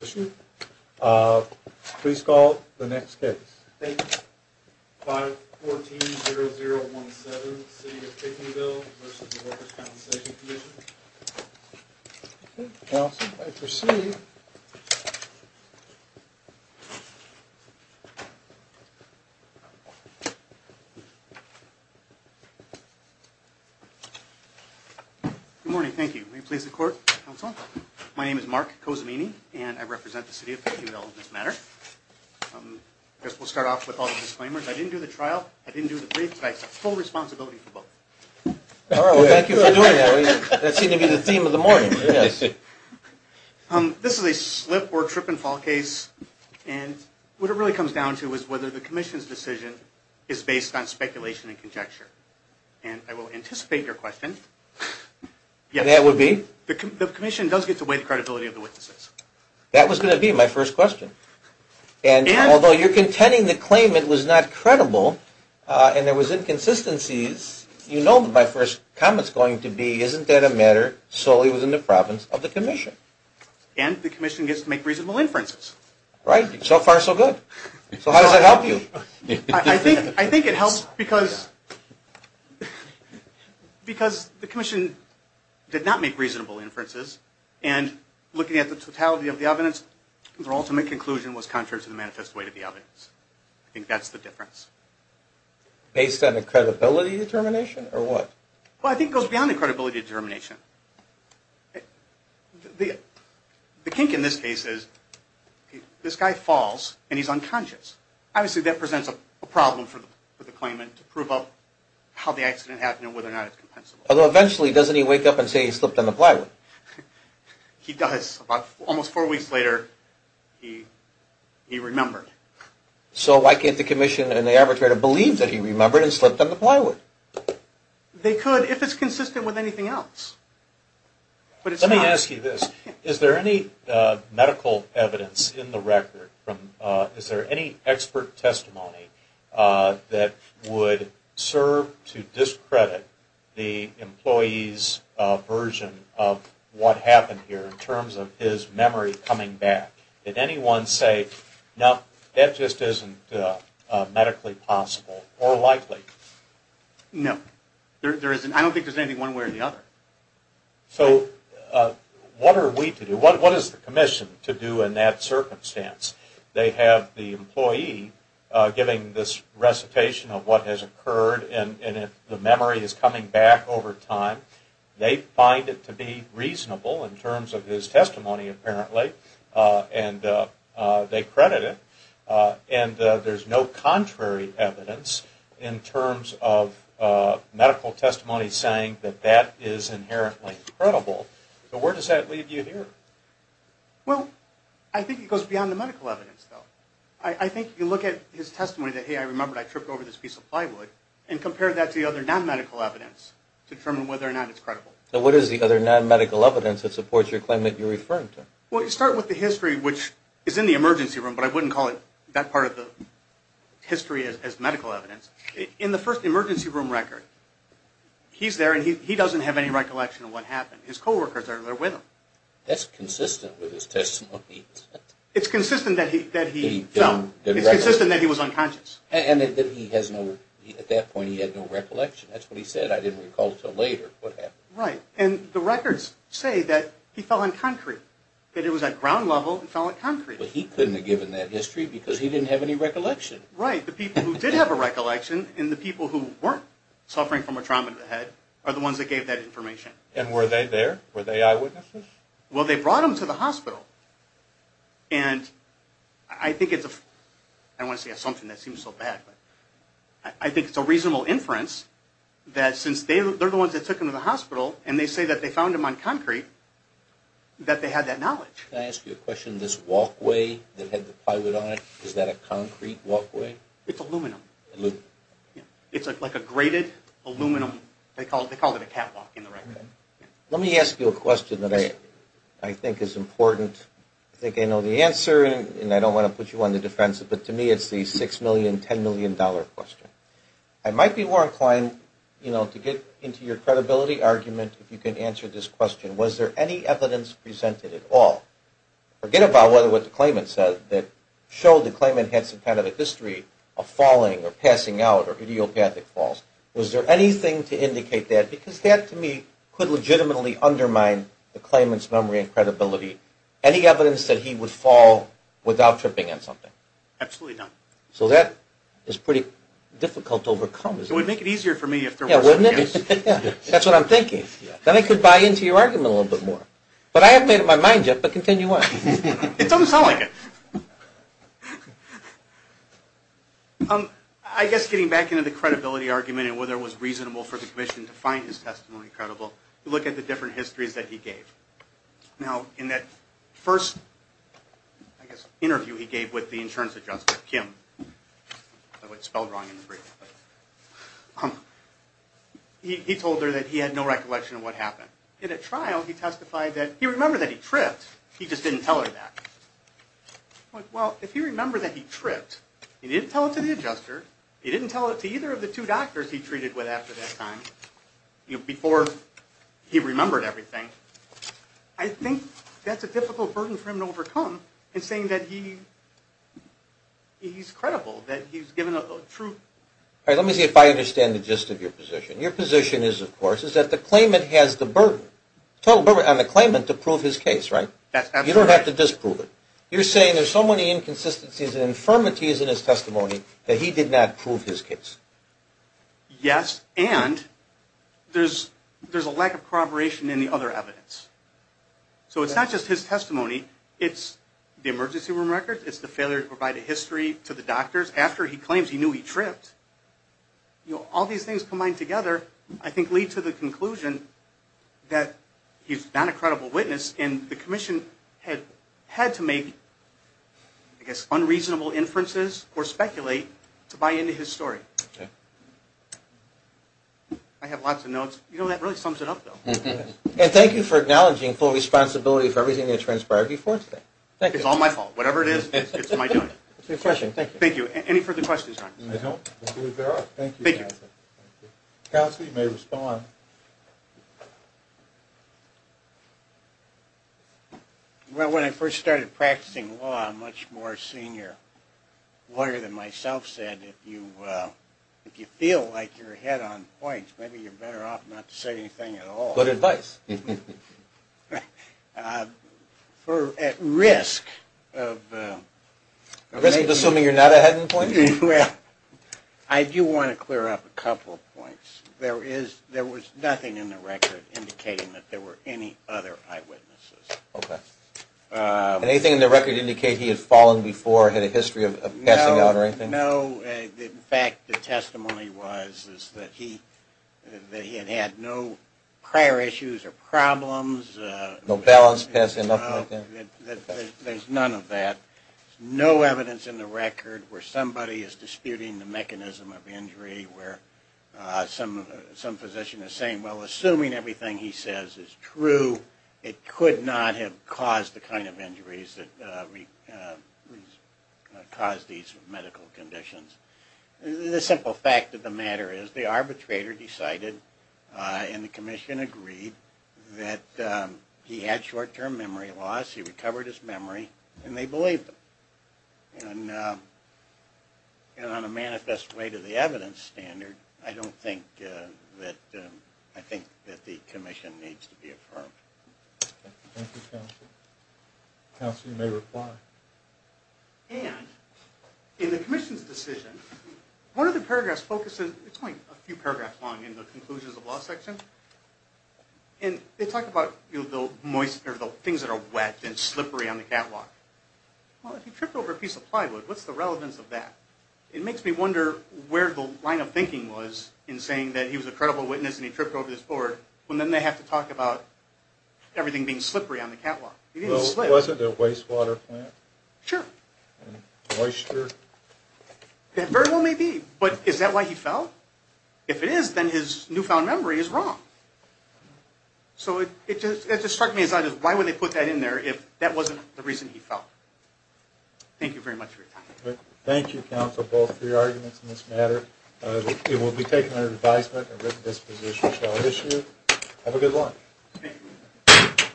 Please call the next case. Thank you. 514-0017, City of Pinckneyville v. Workers' Compensation Comm'n. Okay, counsel, I proceed. Good morning, thank you. May it please the court, counsel? My name is Mark Cozzamini, and I represent the City of Pinckneyville in this matter. I guess we'll start off with all the disclaimers. I didn't do the trial, I didn't do the brief, but I accept full responsibility for both. All right, well, thank you for doing that. That seemed to be the theme of the morning. This is a slip or trip and fall case, and what it really comes down to is whether the commission's decision is based on speculation and conjecture. And I will anticipate your question. That would be? The commission does get to weigh the credibility of the witnesses. That was going to be my first question. And although you're contending the claimant was not credible and there was inconsistencies, you know my first comment's going to be, isn't that a matter solely within the province of the commission? And the commission gets to make reasonable inferences. Right. So far, so good. So how does that help you? I think it helps because the commission did not make reasonable inferences, and looking at the totality of the evidence, their ultimate conclusion was contrary to the manifest weight of the evidence. I think that's the difference. Based on a credibility determination, or what? Well, I think it goes beyond a credibility determination. The kink in this case is this guy falls and he's unconscious. Obviously, that presents a problem for the claimant to prove how the accident happened and whether or not it's compensable. Although eventually, doesn't he wake up and say he slipped on the plywood? He does. Almost four weeks later, he remembered. So why can't the commission and the arbitrator believe that he remembered and slipped on the plywood? They could if it's consistent with anything else. Let me ask you this. Is there any medical evidence in the record? Is there any expert testimony that would serve to discredit the employee's version of what happened here in terms of his memory coming back? Did anyone say, no, that just isn't medically possible or likely? No. I don't think there's anything one way or the other. So what are we to do? What is the commission to do in that circumstance? They have the employee giving this recitation of what has occurred and the memory is coming back over time. They find it to be reasonable in terms of his testimony, apparently, and they credit it. And there's no contrary evidence in terms of medical testimony saying that that is inherently credible. So where does that leave you here? Well, I think it goes beyond the medical evidence, though. I think if you look at his testimony that, hey, I remembered I tripped over this piece of plywood, and compare that to the other non-medical evidence to determine whether or not it's credible. So what is the other non-medical evidence that supports your claim that you're referring to? Well, you start with the history, which is in the emergency room, but I wouldn't call that part of the history as medical evidence. In the first emergency room record, he's there and he doesn't have any recollection of what happened. His co-workers are there with him. That's consistent with his testimony. It's consistent that he fell. It's consistent that he was unconscious. And that he has no, at that point he had no recollection. That's what he said, I didn't recall until later what happened. Right, and the records say that he fell on concrete, that he was at ground level and fell on concrete. But he couldn't have given that history because he didn't have any recollection. Right, the people who did have a recollection and the people who weren't suffering from a trauma to the head are the ones that gave that information. And were they there? Were they eyewitnesses? Well, they brought him to the hospital. And I think it's a, I don't want to say an assumption that seems so bad, but I think it's a reasonable inference that since they're the ones that took him to the hospital and they say that they found him on concrete, that they had that knowledge. Can I ask you a question? This walkway that had the plywood on it, is that a concrete walkway? It's aluminum. It's like a graded aluminum, they called it a catwalk in the record. Let me ask you a question that I think is important. I think I know the answer and I don't want to put you on the defensive, but to me it's the $6 million, $10 million question. I might be more inclined to get into your credibility argument if you can answer this question. Was there any evidence presented at all? Forget about what the claimant said that showed the claimant had some kind of a history of falling or passing out or idiopathic falls. Was there anything to indicate that? Because that to me could legitimately undermine the claimant's memory and credibility. Any evidence that he would fall without tripping on something? Absolutely not. So that is pretty difficult to overcome. It would make it easier for me if there was evidence. Yeah, wouldn't it? That's what I'm thinking. Then I could buy into your argument a little bit more. But I haven't made up my mind yet, but continue on. It doesn't sound like it. I guess getting back into the credibility argument and whether it was reasonable for the commission to find his testimony credible, look at the different histories that he gave. Now, in that first interview he gave with the insurance adjuster, Kim, I spelled wrong in the brief, he told her that he had no recollection of what happened. In a trial, he testified that he remembered that he tripped. He just didn't tell her that. Well, if he remembered that he tripped, he didn't tell it to the adjuster. He didn't tell it to either of the two doctors he treated with after that time. Before he remembered everything. I think that's a difficult burden for him to overcome in saying that he's credible, that he's given a true. All right, let me see if I understand the gist of your position. Your position is, of course, is that the claimant has the burden, total burden on the claimant to prove his case, right? That's absolutely right. You don't have to disprove it. You're saying there's so many inconsistencies and infirmities in his testimony that he did not prove his case. Yes, and there's a lack of corroboration in the other evidence. So it's not just his testimony. It's the emergency room records. It's the failure to provide a history to the doctors after he claims he knew he tripped. All these things combined together, I think, lead to the conclusion that he's not a credible witness and the commission had to make, I guess, unreasonable inferences or speculate to buy into his story. I have lots of notes. You know, that really sums it up, though. And thank you for acknowledging full responsibility for everything that transpired before today. It's all my fault. Whatever it is, it's my doing. It's refreshing. Thank you. Thank you. Any further questions? I don't believe there are. Thank you. Counsel, you may respond. Well, when I first started practicing law, a much more senior lawyer than myself said, if you feel like you're ahead on points, maybe you're better off not to say anything at all. Good advice. At risk of… At risk of assuming you're not ahead in points? Well, I do want to clear up a couple of points. There was a time in my career when I was a lawyer and there was nothing in the record indicating that there were any other eyewitnesses. Okay. Anything in the record indicate he had fallen before, had a history of passing out or anything? No. In fact, the testimony was that he had had no prior issues or problems. No balance passing up like that? There's none of that. No evidence in the record where somebody is disputing the mechanism of injury, where some physician is saying, well, assuming everything he says is true, it could not have caused the kind of injuries that caused these medical conditions. The simple fact of the matter is the arbitrator decided and the commission agreed that he had short-term memory loss, he recovered his memory, and they believed him. And on a manifest way to the evidence standard, I don't think that the commission needs to be affirmed. Thank you, counsel. Counsel, you may reply. And in the commission's decision, one of the paragraphs focuses, it's only a few paragraphs long in the conclusions of law section, and they talk about the things that are wet and slippery on the catwalk. Well, if he tripped over a piece of plywood, what's the relevance of that? It makes me wonder where the line of thinking was in saying that he was a credible witness and he tripped over this board, when then they have to talk about everything being slippery on the catwalk. Well, wasn't there a wastewater plant? Sure. And moisture? There very well may be, but is that why he fell? If it is, then his newfound memory is wrong. So it just struck me as why would they put that in there if that wasn't the reason he fell? Thank you very much for your time. Thank you, counsel, both for your arguments in this matter. It will be taken under advisement and written disposition shall issue. Have a good lunch. Thank you.